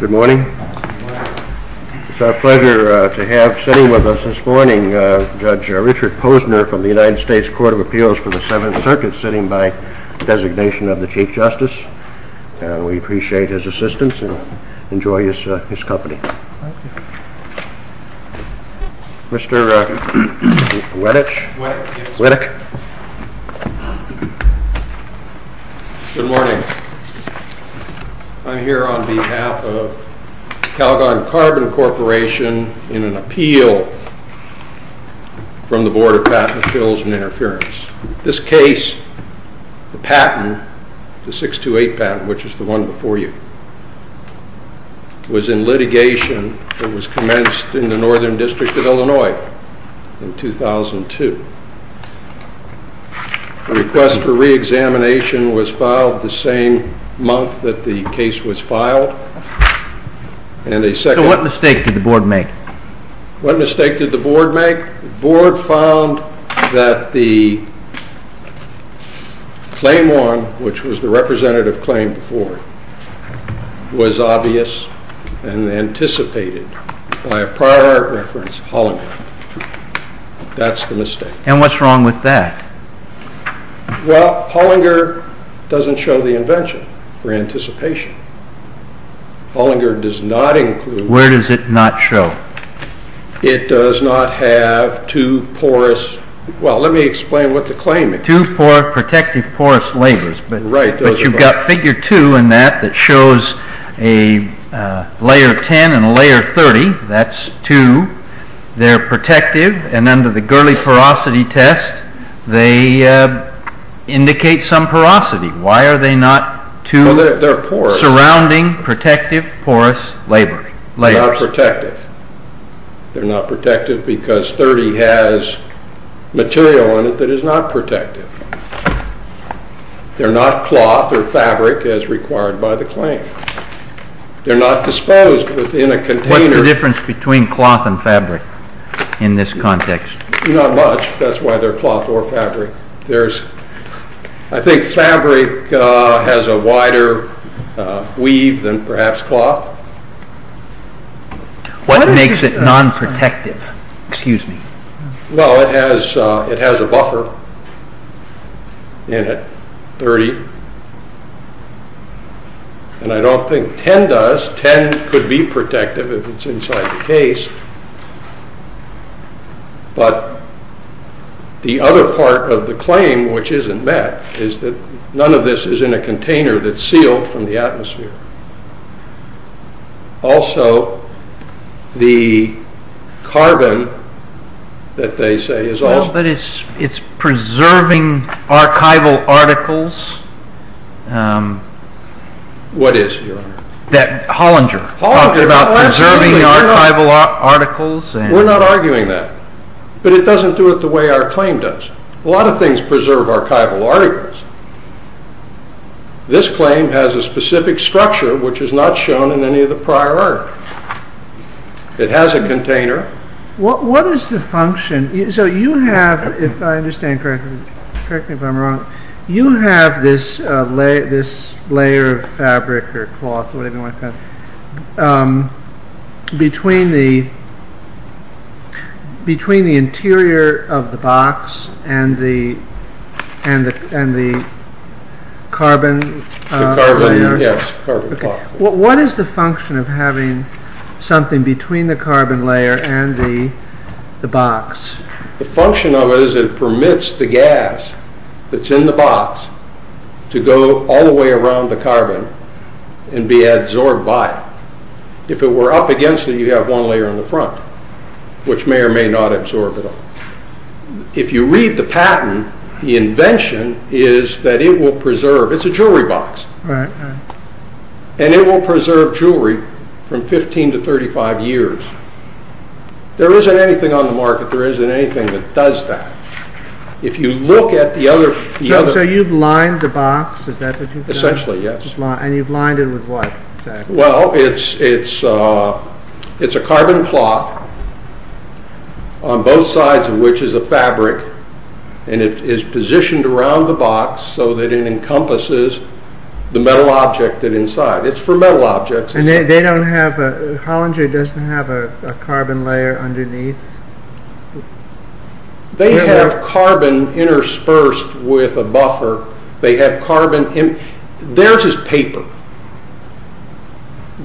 Good morning. It's our pleasure to have sitting with us this morning, Judge Richard Posner from the United States Court of Appeals for the Seventh Circuit, sitting by designation of the Chief Justice. We appreciate his assistance and enjoy his company. Mr. Wettich. Good morning. I'm here on behalf of Calgon Carbon Corporation in an appeal from the Board of Patent Appeals and Interference. This case, the patent, the 628 patent, which is the one before you, was in litigation and was commenced in the Northern District of Illinois in 2002. The request for re-examination was filed the same month that the case was filed. So what mistake did the Board make? What mistake did the Board make? The Board found that the claim on, which was the representative claim before, was obvious and anticipated by a prior art reference, Hollinger. That's the mistake. And what's wrong with that? Well, Hollinger doesn't show the invention for anticipation. Hollinger does not include... Where does it not show? It does not have two porous... Well, let me explain what the claim is. Two protective porous layers. Right. But you've got figure two in that that shows a layer 10 and a layer 30. That's two. They're protective, and under the Gurley porosity test, they indicate some porosity. Why are they not two surrounding protective porous layers? They're not protective. They're not protective because 30 has material in it that is not protective. They're not cloth or fabric as required by the claim. They're not disposed within a container. What's the difference between cloth and fabric in this context? Not much. That's why they're cloth or fabric. I think fabric has a wider weave than perhaps cloth. What makes it non-protective? Excuse me. Well, it has a buffer in it, 30. And I don't think 10 does. 10 could be protective if it's inside the case. But the other part of the claim, which isn't met, is that none of this is in a container that's sealed from the atmosphere. Also, the carbon that they say is also... But it's preserving archival articles. What is, Your Honor? Hollinger talked about preserving archival articles. We're not arguing that. But it doesn't do it the way our claim does. A lot of things preserve archival articles. This claim has a specific structure which is not shown in any of the prior art. It has a container. What is the function? So you have, if I understand correctly, correct me if I'm wrong, you have this layer of fabric or cloth or whatever you want to call it between the interior of the box and the carbon layer. Yes, carbon cloth. What is the function of having something between the carbon layer and the box? The function of it is it permits the gas that's in the box to go all the way around the carbon and be absorbed by it. If it were up against it, you'd have one layer on the front, which may or may not absorb it all. If you read the patent, the invention is that it will preserve... It's a jewelry box. And it will preserve jewelry from 15 to 35 years. There isn't anything on the market, there isn't anything that does that. If you look at the other... So you've lined the box, is that what you've done? Essentially, yes. And you've lined it with what exactly? Well, it's a carbon cloth on both sides of which is a fabric. And it is positioned around the box so that it encompasses the metal object inside. It's for metal objects. And they don't have... Hollinger doesn't have a carbon layer underneath? They have carbon interspersed with a buffer. They have carbon... Theirs is paper.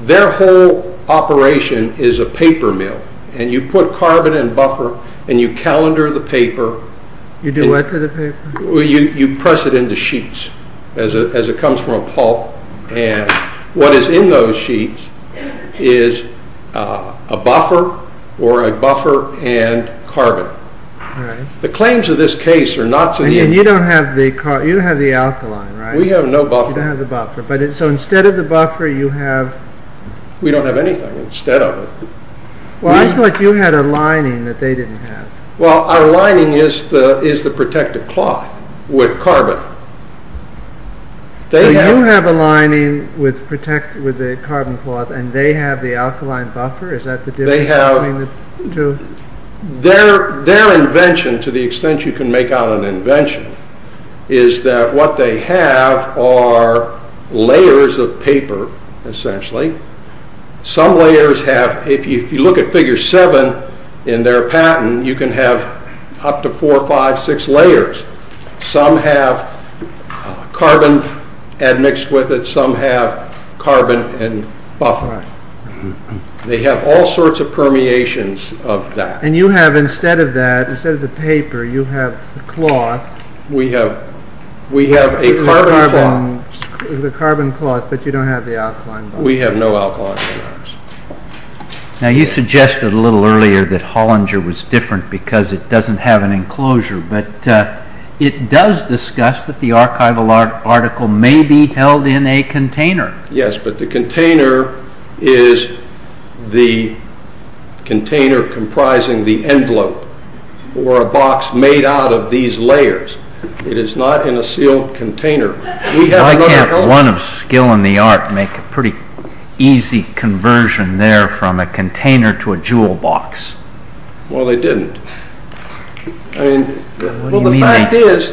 Their whole operation is a paper mill. And you put carbon and buffer and you calendar the paper. You do what to the paper? You press it into sheets as it comes from a pulp. And what is in those sheets is a buffer or a buffer and carbon. The claims of this case are not to the... And you don't have the alkaline, right? We have no buffer. You don't have the buffer. So instead of the buffer you have... We don't have anything instead of it. Well, I thought you had a lining that they didn't have. Well, our lining is the protective cloth with carbon. So you have a lining with a carbon cloth and they have the alkaline buffer? Is that the difference between the two? Their invention, to the extent you can make out an invention, is that what they have are layers of paper, essentially. Some layers have... If you look at figure 7 in their patent, you can have up to 4, 5, 6 layers. Some have carbon admixed with it, some have carbon and buffer. They have all sorts of permeations of that. And you have, instead of that, instead of the paper, you have the cloth. We have a carbon cloth. The carbon cloth, but you don't have the alkaline buffer. We have no alkaline in ours. Now you suggested a little earlier that Hollinger was different because it doesn't have an enclosure, but it does discuss that the archival article may be held in a container. Yes, but the container is the container comprising the envelope or a box made out of these layers. It is not in a sealed container. Why can't one of skill and the art make a pretty easy conversion there from a container to a jewel box? Well, they didn't. What do you mean they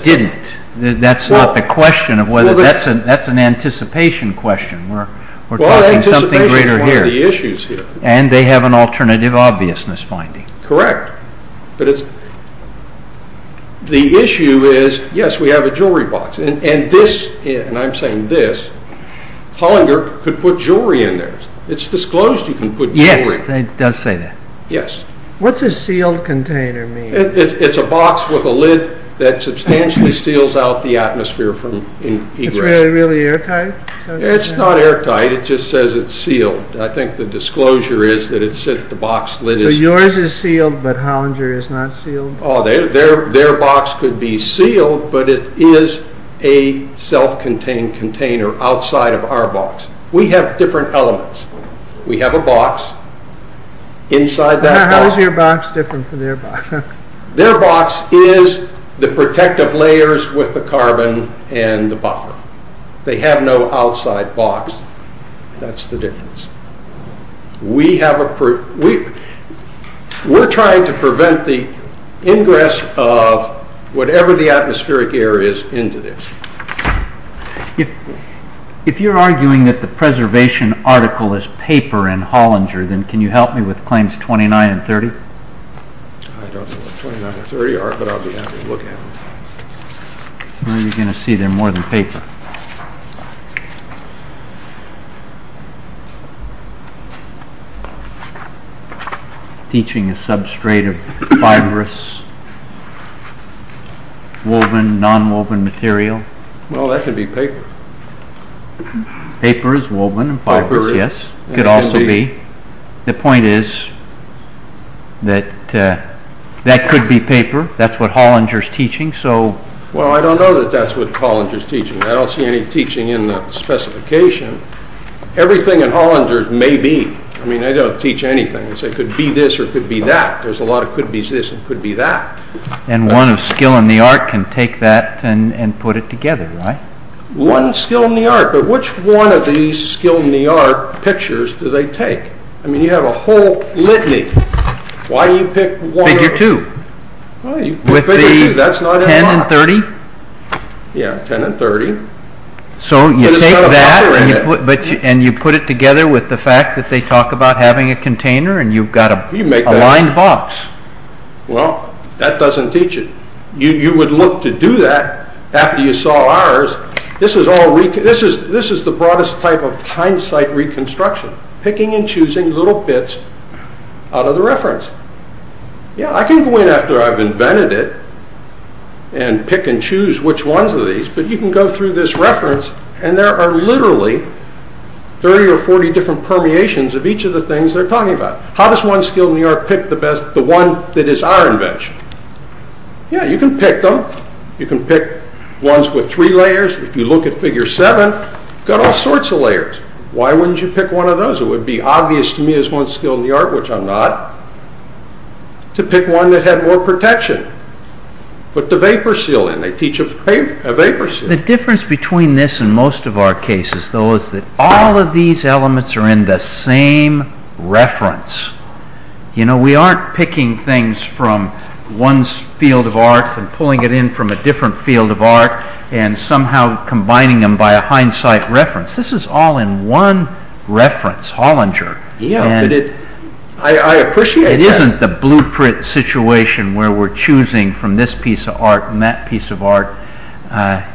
didn't? That's not the question. That's an anticipation question. We're talking something greater here. And they have an alternative obviousness finding. Correct. The issue is, yes, we have a jewelry box. And this, and I'm saying this, Hollinger could put jewelry in there. It's disclosed you can put jewelry in there. Yes, it does say that. Yes. What's a sealed container mean? It's a box with a lid that substantially seals out the atmosphere from egress. Is it really airtight? It's not airtight. It just says it's sealed. I think the disclosure is that the box lid is sealed. So yours is sealed, but Hollinger is not sealed? Their box could be sealed, but it is a self-contained container outside of our box. We have different elements. We have a box. How is your box different from their box? Their box is the protective layers with the carbon and the buffer. They have no outside box. That's the difference. We're trying to prevent the ingress of whatever the atmospheric air is into this. If you're arguing that the preservation article is paper in Hollinger, then can you help me with claims 29 and 30? I don't know what 29 and 30 are, but I'll be happy to look at them. You're going to see they're more than paper. Teaching a substrate of fibrous, woven, nonwoven material. Well, that could be paper. Paper is woven and fibrous, yes. It could also be. The point is that that could be paper. That's what Hollinger is teaching. Well, I don't know that that's what Hollinger is teaching. I don't see any teaching in the specification. Everything in Hollinger may be. I mean, I don't teach anything. I say it could be this or it could be that. There's a lot of could-bes this and could-be that. And one of skill in the art can take that and put it together, right? One skill in the art, but which one of these skill in the art pictures do they take? I mean, you have a whole litany. Why do you pick one? Figure two. With the 10 and 30? Yeah, 10 and 30. So you take that and you put it together with the fact that they talk about having a container and you've got a lined box. Well, that doesn't teach it. You would look to do that after you saw ours. This is the broadest type of hindsight reconstruction. Picking and choosing little bits out of the reference. Yeah, I can go in after I've invented it and pick and choose which ones are these, but you can go through this reference and there are literally 30 or 40 different permeations of each of the things they're talking about. How does one skill in the art pick the one that is our invention? Yeah, you can pick them. You can pick ones with three layers. If you look at figure seven, you've got all sorts of layers. Why wouldn't you pick one of those? It would be obvious to me as one skill in the art, which I'm not, to pick one that had more protection. Put the vapor seal in. They teach a vapor seal. The difference between this and most of our cases, though, is that all of these elements are in the same reference. We aren't picking things from one field of art and pulling it in from a different field of art and somehow combining them by a hindsight reference. This is all in one reference, Hollinger. I appreciate that. It isn't the blueprint situation where we're choosing from this piece of art and that piece of art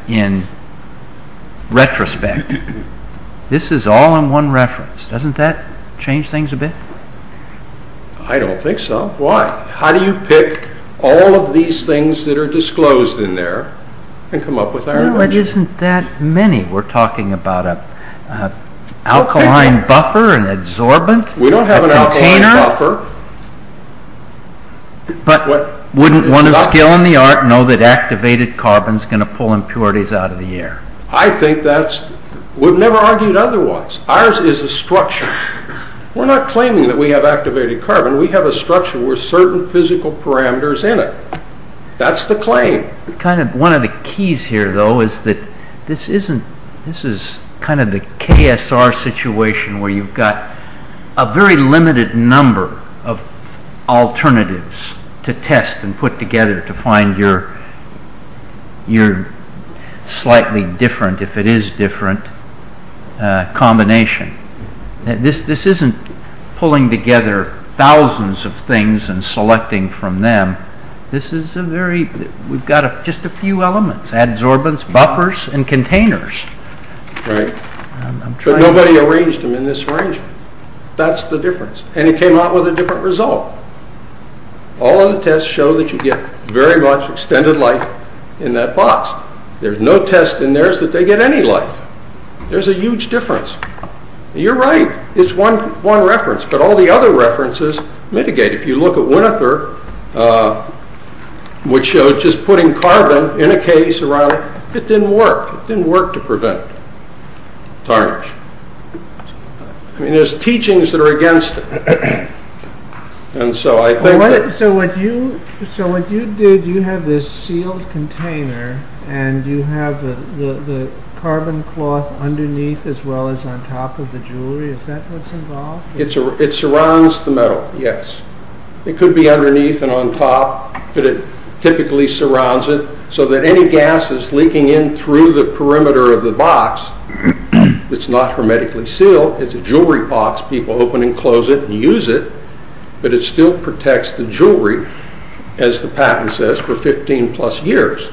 in retrospect. This is all in one reference. Doesn't that change things a bit? I don't think so. Why? How do you pick all of these things that are disclosed in there and come up with our invention? No, it isn't that many. We're talking about an alkaline buffer, an adsorbent, a container. We don't have an alkaline buffer. But wouldn't one of skill in the art know that activated carbon is going to pull impurities out of the air? I think that's... We've never argued otherwise. Ours is a structure. We're not claiming that we have activated carbon. We have a structure with certain physical parameters in it. That's the claim. One of the keys here, though, is that this is kind of the KSR situation where you've got a very limited number of alternatives to test and put together to find your slightly different, if it is different, combination. This isn't pulling together thousands of things and selecting from them. This is a very... We've got just a few elements. Adsorbents, buffers, and containers. Right. But nobody arranged them in this arrangement. That's the difference. And it came out with a different result. All of the tests show that you get very much extended life in that box. There's no test in theirs that they get any life. There's a huge difference. You're right. It's one reference. But all the other references mitigate. If you look at Winother, which showed just putting carbon in a case around... It didn't work. It didn't work to prevent tarnish. I mean, there's teachings that are against it. And so I think that... So what you did, you have this sealed container and you have the carbon cloth underneath as well as on top of the jewelry. Is that what's involved? It surrounds the metal, yes. It could be underneath and on top, but it typically surrounds it so that any gases leaking in through the perimeter of the box, it's not hermetically sealed. People open and close it and use it, but it still protects the jewelry, as the patent says, for 15 plus years.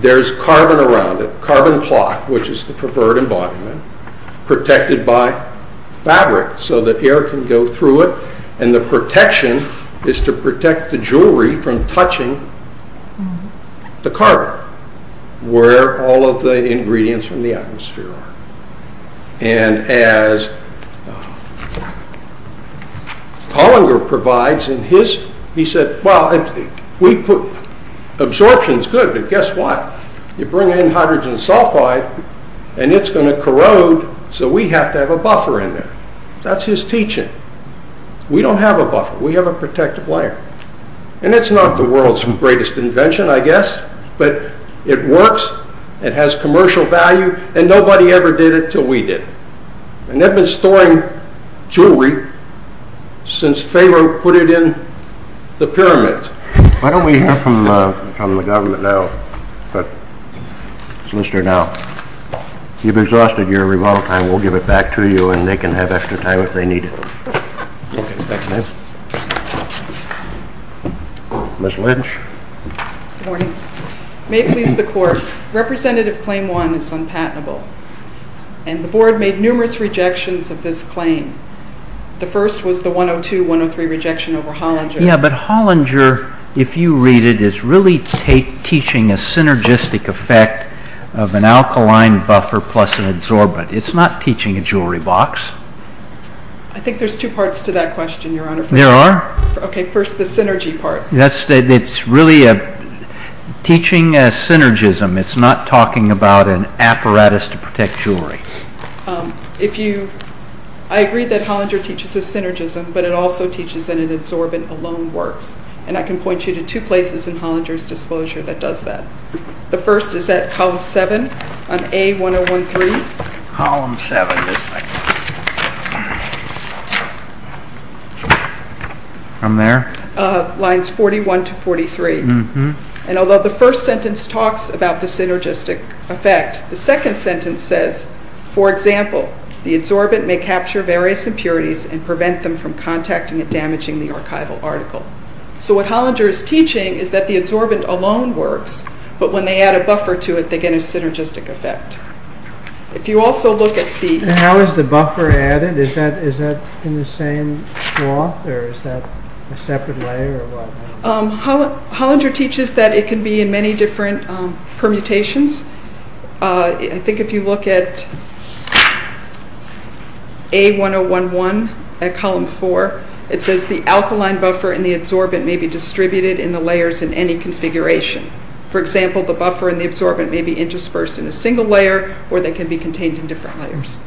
There's carbon around it, carbon cloth, which is the preferred embodiment, protected by fabric so that air can go through it and the protection is to protect the jewelry from touching the carbon, where all of the ingredients from the atmosphere are. And as Pollinger provides in his... He said, well, absorption's good, but guess what? You bring in hydrogen sulfide and it's going to corrode, so we have to have a buffer in there. That's his teaching. We don't have a buffer. We have a protective layer. And it's not the world's greatest invention, I guess, but it works, it has commercial value, and nobody ever did it until we did it. And they've been storing jewelry since Pharoah put it in the pyramid. Why don't we hear from the government now? But, Solicitor, now, you've exhausted your rebuttal time. We'll give it back to you, and they can have extra time if they need it. Ms. Lynch? Good morning. May it please the Court, Representative Claim 1 is unpatentable, and the Board made numerous rejections of this claim. The first was the 102-103 rejection over Hollinger. Yeah, but Hollinger, if you read it, is really teaching a synergistic effect of an alkaline buffer plus an adsorbent. It's not teaching a jewelry box. I think there's two parts to that question, Your Honor. There are? Okay, first the synergy part. It's really teaching a synergism. It's not talking about an apparatus to protect jewelry. I agree that Hollinger teaches a synergism, but it also teaches that an adsorbent alone works. And I can point you to two places in Hollinger's disclosure that does that. The first is at column 7 on A-101-3. Column 7. From there? Lines 41 to 43. And although the first sentence talks about the synergistic effect, the second sentence says, for example, the adsorbent may capture various impurities and prevent them from contacting and damaging the archival article. So what Hollinger is teaching is that the adsorbent alone works, but when they add a buffer to it, they get a synergistic effect. If you also look at the... How is the buffer added? Is that in the same cloth, or is that a separate layer or what? Hollinger teaches that it can be in many different permutations. I think if you look at A-101-1 at column 4, it says the alkaline buffer and the adsorbent may be distributed in the layers in any configuration. For example, the buffer and the adsorbent may be interspersed in a single layer or they can be contained in different layers.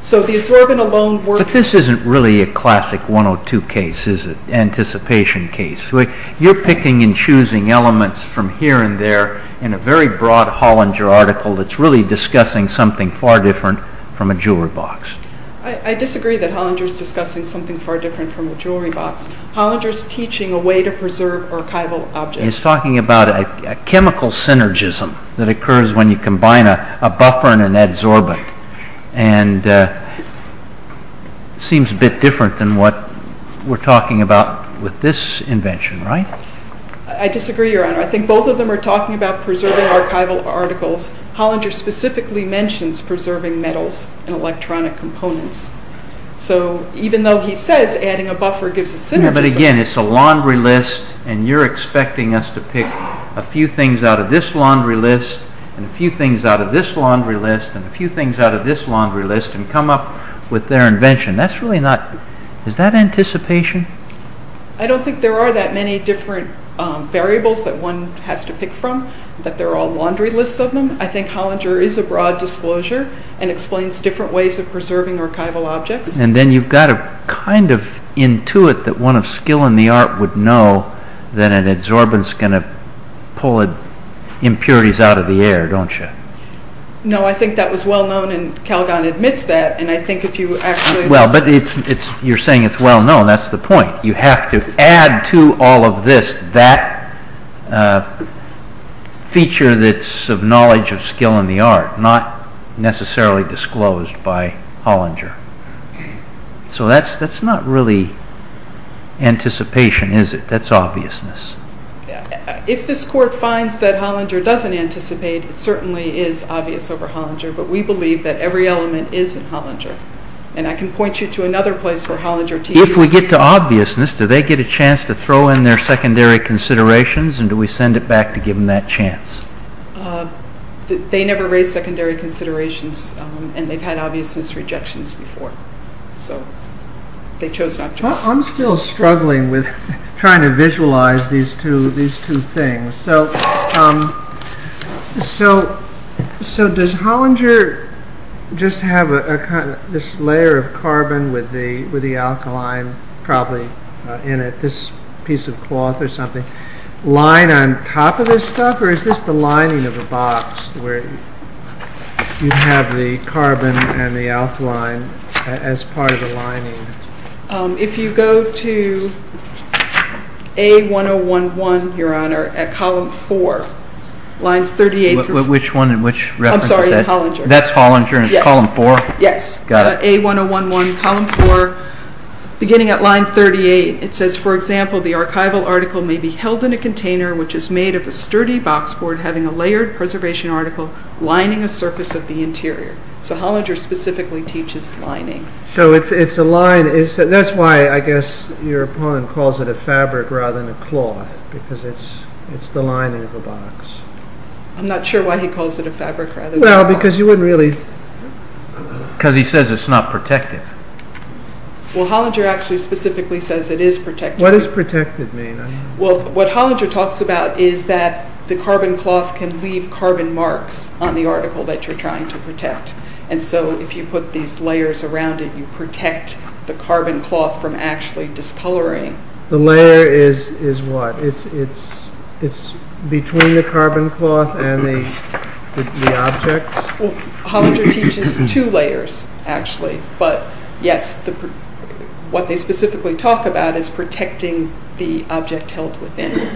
So the adsorbent alone works... But this isn't really a classic 102 case, is it? Anticipation case. You're picking and choosing elements from here and there in a very broad Hollinger article that's really discussing something far different from a jewelry box. I disagree that Hollinger is discussing something far different from a jewelry box. Hollinger is teaching a way to preserve archival objects. He's talking about a chemical synergism that occurs when you combine a buffer and an adsorbent. And it seems a bit different than what we're talking about with this invention, right? I disagree, Your Honor. I think both of them are talking about preserving archival articles. Hollinger specifically mentions preserving metals and electronic components. So even though he says adding a buffer gives a synergism... But again, it's a laundry list and you're expecting us to pick a few things out of this laundry list and a few things out of this laundry list and a few things out of this laundry list and come up with their invention. Is that anticipation? I don't think there are that many different variables that one has to pick from, that they're all laundry lists of them. I think Hollinger is a broad disclosure and explains different ways of preserving archival objects. And then you've got to kind of intuit that one of skill in the art would know that an adsorbent is going to pull impurities out of the air, don't you? No, I think that was well known and Calgon admits that, and I think if you actually... Well, but you're saying it's well known. That's the point. You have to add to all of this that feature that's of knowledge of skill in the art, not necessarily disclosed by Hollinger. So that's not really anticipation, is it? That's obviousness. If this Court finds that Hollinger doesn't anticipate, it certainly is obvious over Hollinger, but we believe that every element is in Hollinger. And I can point you to another place where Hollinger... If we get to obviousness, do they get a chance to throw in their secondary considerations and do we send it back to give them that chance? They never raise secondary considerations and they've had obviousness rejections before. So they chose not to. I'm still struggling with trying to visualize these two things. So does Hollinger just have this layer of carbon with the alkaline probably in it, this piece of cloth or something, lying on top of this stuff, or is this the lining of a box where you have the carbon and the alkaline as part of the lining? If you go to A1011, Your Honor, at column 4, lines 38- Which one and which reference is that? I'm sorry, Hollinger. That's Hollinger in column 4? Yes. A1011, column 4, beginning at line 38. It says, for example, the archival article may be held in a container which is made of a sturdy box board having a layered preservation article lining a surface of the interior. So Hollinger specifically teaches lining. So it's a line. That's why, I guess, your opponent calls it a fabric rather than a cloth because it's the lining of a box. I'm not sure why he calls it a fabric rather than a cloth. Well, because you wouldn't really- Because he says it's not protective. Well, Hollinger actually specifically says it is protective. What does protected mean? Well, what Hollinger talks about is that the carbon cloth can leave carbon marks on the article that you're trying to protect. And so if you put these layers around it, you protect the carbon cloth from actually discoloring. The layer is what? It's between the carbon cloth and the object? Well, Hollinger teaches two layers, actually. But yes, what they specifically talk about is protecting the object held within.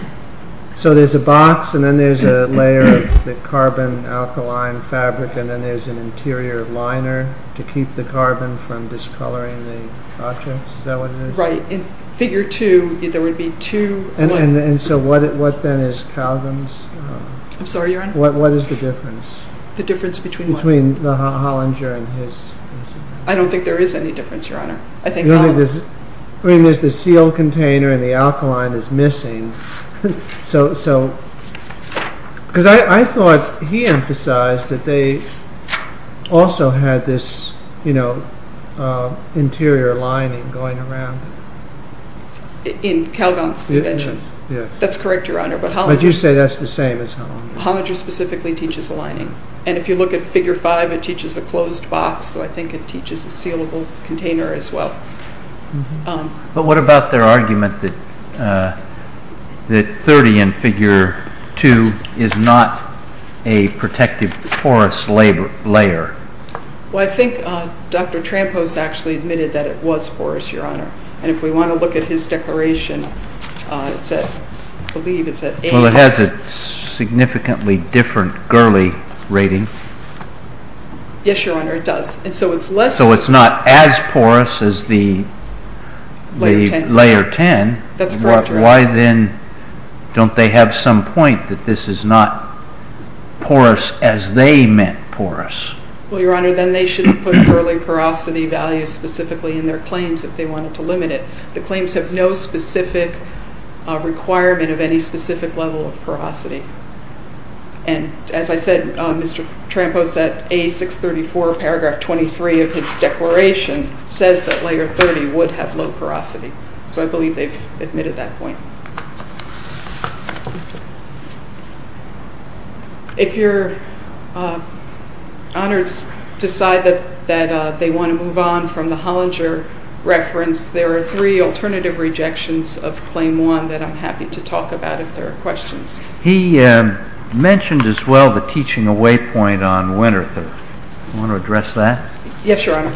So there's a box, and then there's a layer of the carbon alkaline fabric, and then there's an interior liner to keep the carbon from discoloring the object? Is that what it is? Right. In figure two, there would be two- And so what then is Calgan's? I'm sorry, Your Honor? What is the difference? The difference between what? Between the Hollinger and his? I don't think there is any difference, Your Honor. I think- I mean, there's the sealed container, and the alkaline is missing. So, because I thought he emphasized that they also had this interior lining going around. In Calgan's invention? That's correct, Your Honor. But Hollinger- But you say that's the same as Hollinger. Hollinger specifically teaches aligning. And if you look at figure five, it teaches a closed box, so I think it teaches a sealable container as well. But what about their argument that 30 in figure two is not a protective porous layer? Well, I think Dr. Trampos actually admitted that it was porous, Your Honor. And if we want to look at his declaration, it said, I believe it said- Well, it has a significantly different Gurley rating. Yes, Your Honor, it does. And so it's less- Layer 10. Layer 10. That's correct, Your Honor. Why then don't they have some point that this is not porous as they meant porous? Well, Your Honor, then they should have put Gurley porosity values specifically in their claims if they wanted to limit it. The claims have no specific requirement of any specific level of porosity. And as I said, Mr. Trampos at A634, paragraph 23 of his declaration, says that Layer 30 would have low porosity. So I believe they've admitted that point. If Your Honors decide that they want to move on from the Hollinger reference, there are three alternative rejections of Claim 1 that I'm happy to talk about if there are questions. He mentioned as well the teaching away point on Winter 30. Do you want to address that? Yes, Your Honor.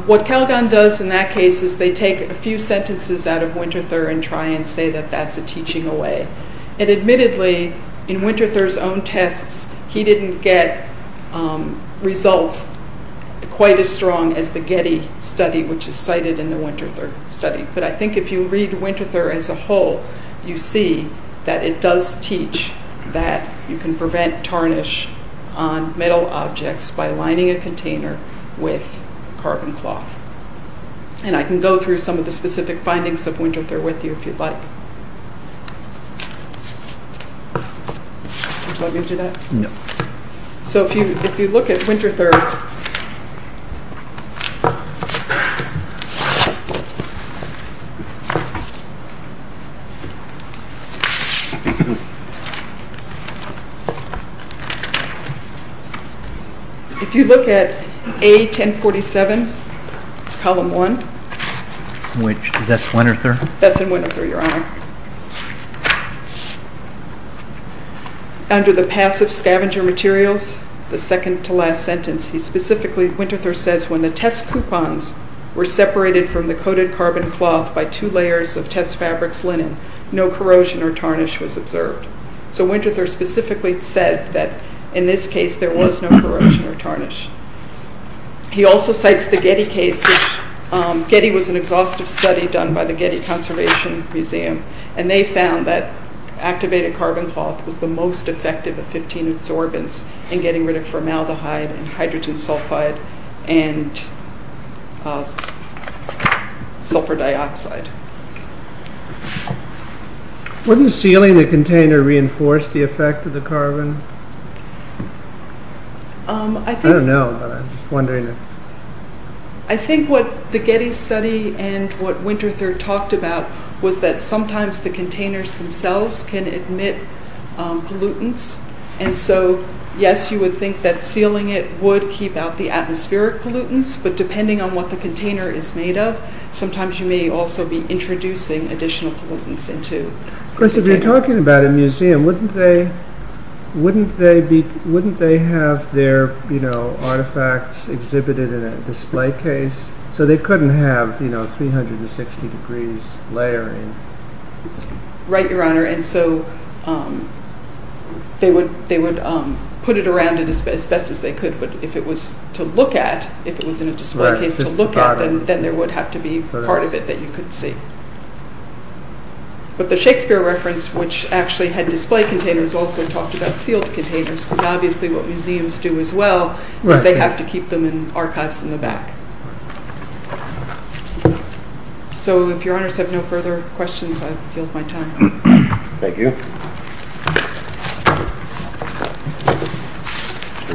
What Calgon does in that case is they take a few sentences out of Winter 30 and try and say that that's a teaching away. And admittedly, in Winter 30's own tests, he didn't get results quite as strong as the Getty study, which is cited in the Winter 30 study. But I think if you read Winter 30 as a whole, you see that it does teach that you can prevent tarnish on metal objects by lining a container with carbon cloth. And I can go through some of the specific findings of Winter 30 with you if you'd like. Would you like me to do that? No. So if you look at Winter 30... If you look at A1047, Column 1... Is that Winter 30? That's in Winter 30, Your Honor. Under the passive scavenger materials, the second-to-last sentence, he specifically, Winter 30 says, when the test coupons were separated from the coated carbon cloth by two layers of test fabrics linen, no corrosion or tarnish was observed. So Winter 30 specifically said that in this case, there was no corrosion or tarnish. He also cites the Getty case, which Getty was an exhaustive study done by the Getty Conservation Museum, and they found that activated carbon cloth was the most effective of 15 absorbents in getting rid of formaldehyde and hydrogen sulfide and sulfur dioxide. Wouldn't sealing the container reinforce the effect of the carbon? I don't know, but I'm just wondering. I think what the Getty study and what Winter 30 talked about was that sometimes the containers themselves can emit pollutants, and so, yes, you would think that sealing it would keep out the atmospheric pollutants, but depending on what the container is made of, sometimes you may also be introducing additional pollutants into the container. Of course, if you're talking about a museum, wouldn't they have their artifacts exhibited in a display case? So they couldn't have 360 degrees layering. Right, Your Honor, and so they would put it around as best as they could, but if it was to look at, if it was in a display case to look at, then there would have to be part of it that you could see. But the Shakespeare reference, which actually had display containers, also talked about sealed containers, because obviously what museums do as well is they have to keep them in archives in the back. So if Your Honors have no further questions, I yield my time. Thank you. Mr.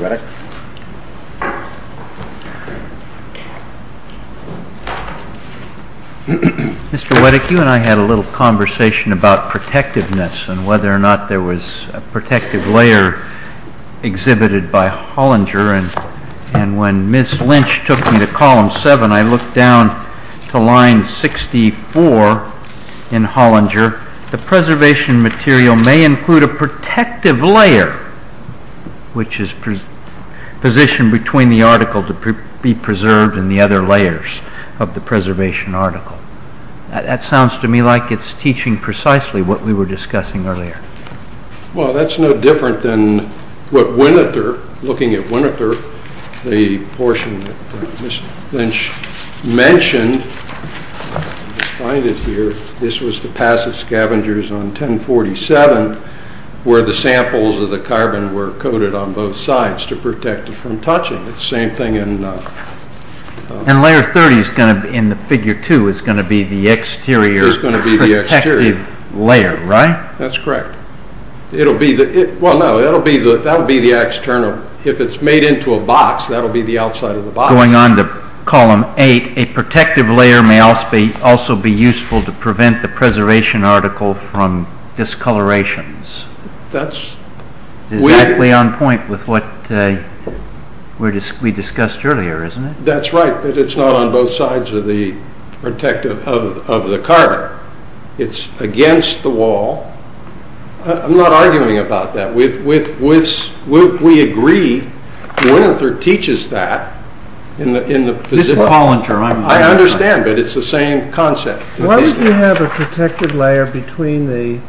Weddick. Mr. Weddick, you and I had a little conversation about protectiveness and whether or not there was a protective layer exhibited by Hollinger, and when Ms. Lynch took me to Column 7, I looked down to line 64 in Hollinger. The preservation material may include a protective layer, which is positioned between the article to be preserved and the other layers of the preservation article. That sounds to me like it's teaching precisely what we were discussing earlier. Well, that's no different than what Winother, looking at Winother, the portion that Ms. Lynch mentioned, this was the Passive Scavengers on 1047, where the samples of the carbon were coated on both sides to protect it from touching. It's the same thing in... And Layer 30 in the Figure 2 is going to be the exterior protective layer, right? That's correct. That will be the external. If it's made into a box, that will be the outside of the box. Going on to Column 8, a protective layer may also be useful to prevent the preservation article from discolorations. Exactly on point with what we discussed earlier, isn't it? That's right, but it's not on both sides of the protective of the carbon. It's against the wall. I'm not arguing about that. We agree. Winother teaches that in the... I understand, but it's the same concept. Why do you have a protective layer between the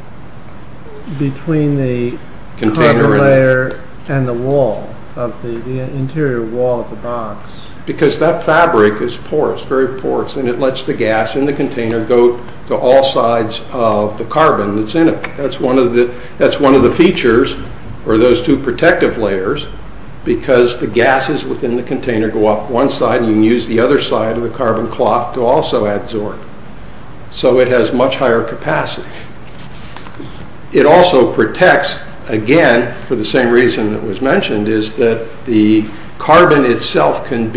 carbon layer and the wall, the interior wall of the box? Because that fabric is porous, very porous, and it lets the gas in the container go to all sides of the carbon that's in it. That's one of the features, or those two protective layers, because the gases within the container go up one side, and you can use the other side of the carbon cloth to also adsorb. So it has much higher capacity. It also protects, again, for the same reason that was mentioned, is that the carbon itself can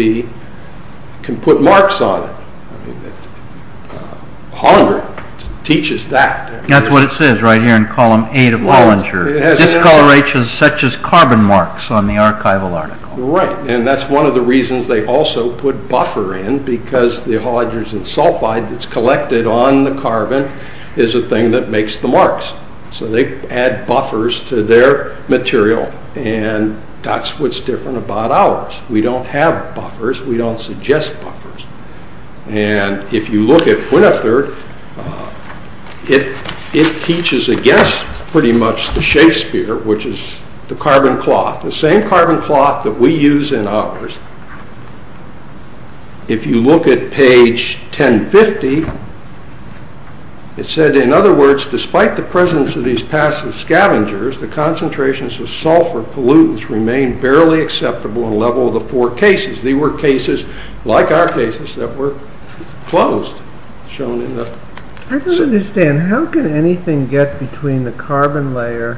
put marks on it. Hollinger teaches that. That's what it says right here in column 8 of Hollinger. Discolorations such as carbon marks on the archival article. Right, and that's one of the reasons they also put buffer in, because the hollingers and sulfide that's collected on the carbon is the thing that makes the marks. So they add buffers to their material, and that's what's different about ours. We don't have buffers. We don't suggest buffers. And if you look at Winnetherd, it teaches against, pretty much, the Shakespeare, which is the carbon cloth. The same carbon cloth that we use in ours. If you look at page 1050, it said, in other words, despite the presence of these passive scavengers, the concentrations of sulfur pollutants remain barely acceptable on the level of the four cases. They were cases, like our cases, that were closed. I don't understand. How can anything get between the carbon layer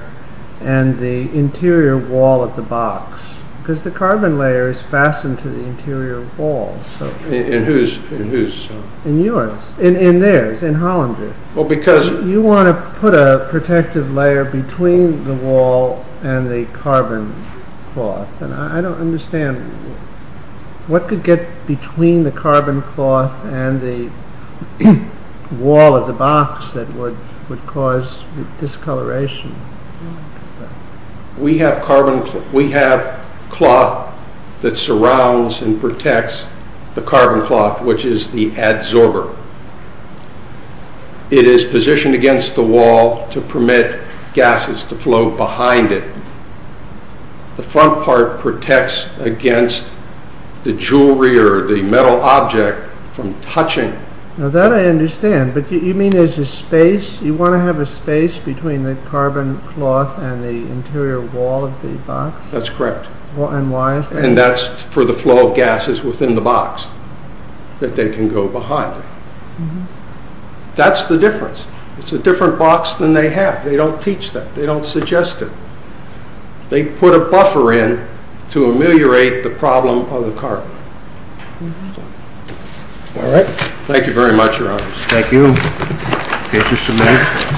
and the interior wall of the box? Because the carbon layer is fastened to the interior wall. In whose? In yours. In theirs, in Hollinger. Well, because... You want to put a protective layer between the wall and the carbon cloth. I don't understand. What could get between the carbon cloth and the wall of the box that would cause discoloration? We have cloth that surrounds and protects the carbon cloth, which is the adsorber. It is positioned against the wall to permit gases to flow behind it. The front part protects against the jewelry or the metal object from touching. Now, that I understand. But you mean there's a space? You want to have a space between the carbon cloth and the interior wall of the box? That's correct. And why is that? And that's for the flow of gases within the box, that they can go behind. That's the difference. It's a different box than they have. They don't teach that. They don't suggest it. They put a buffer in to ameliorate the problem of the carbon. All right. Thank you very much, Your Honors. Thank you. Okay, just a minute.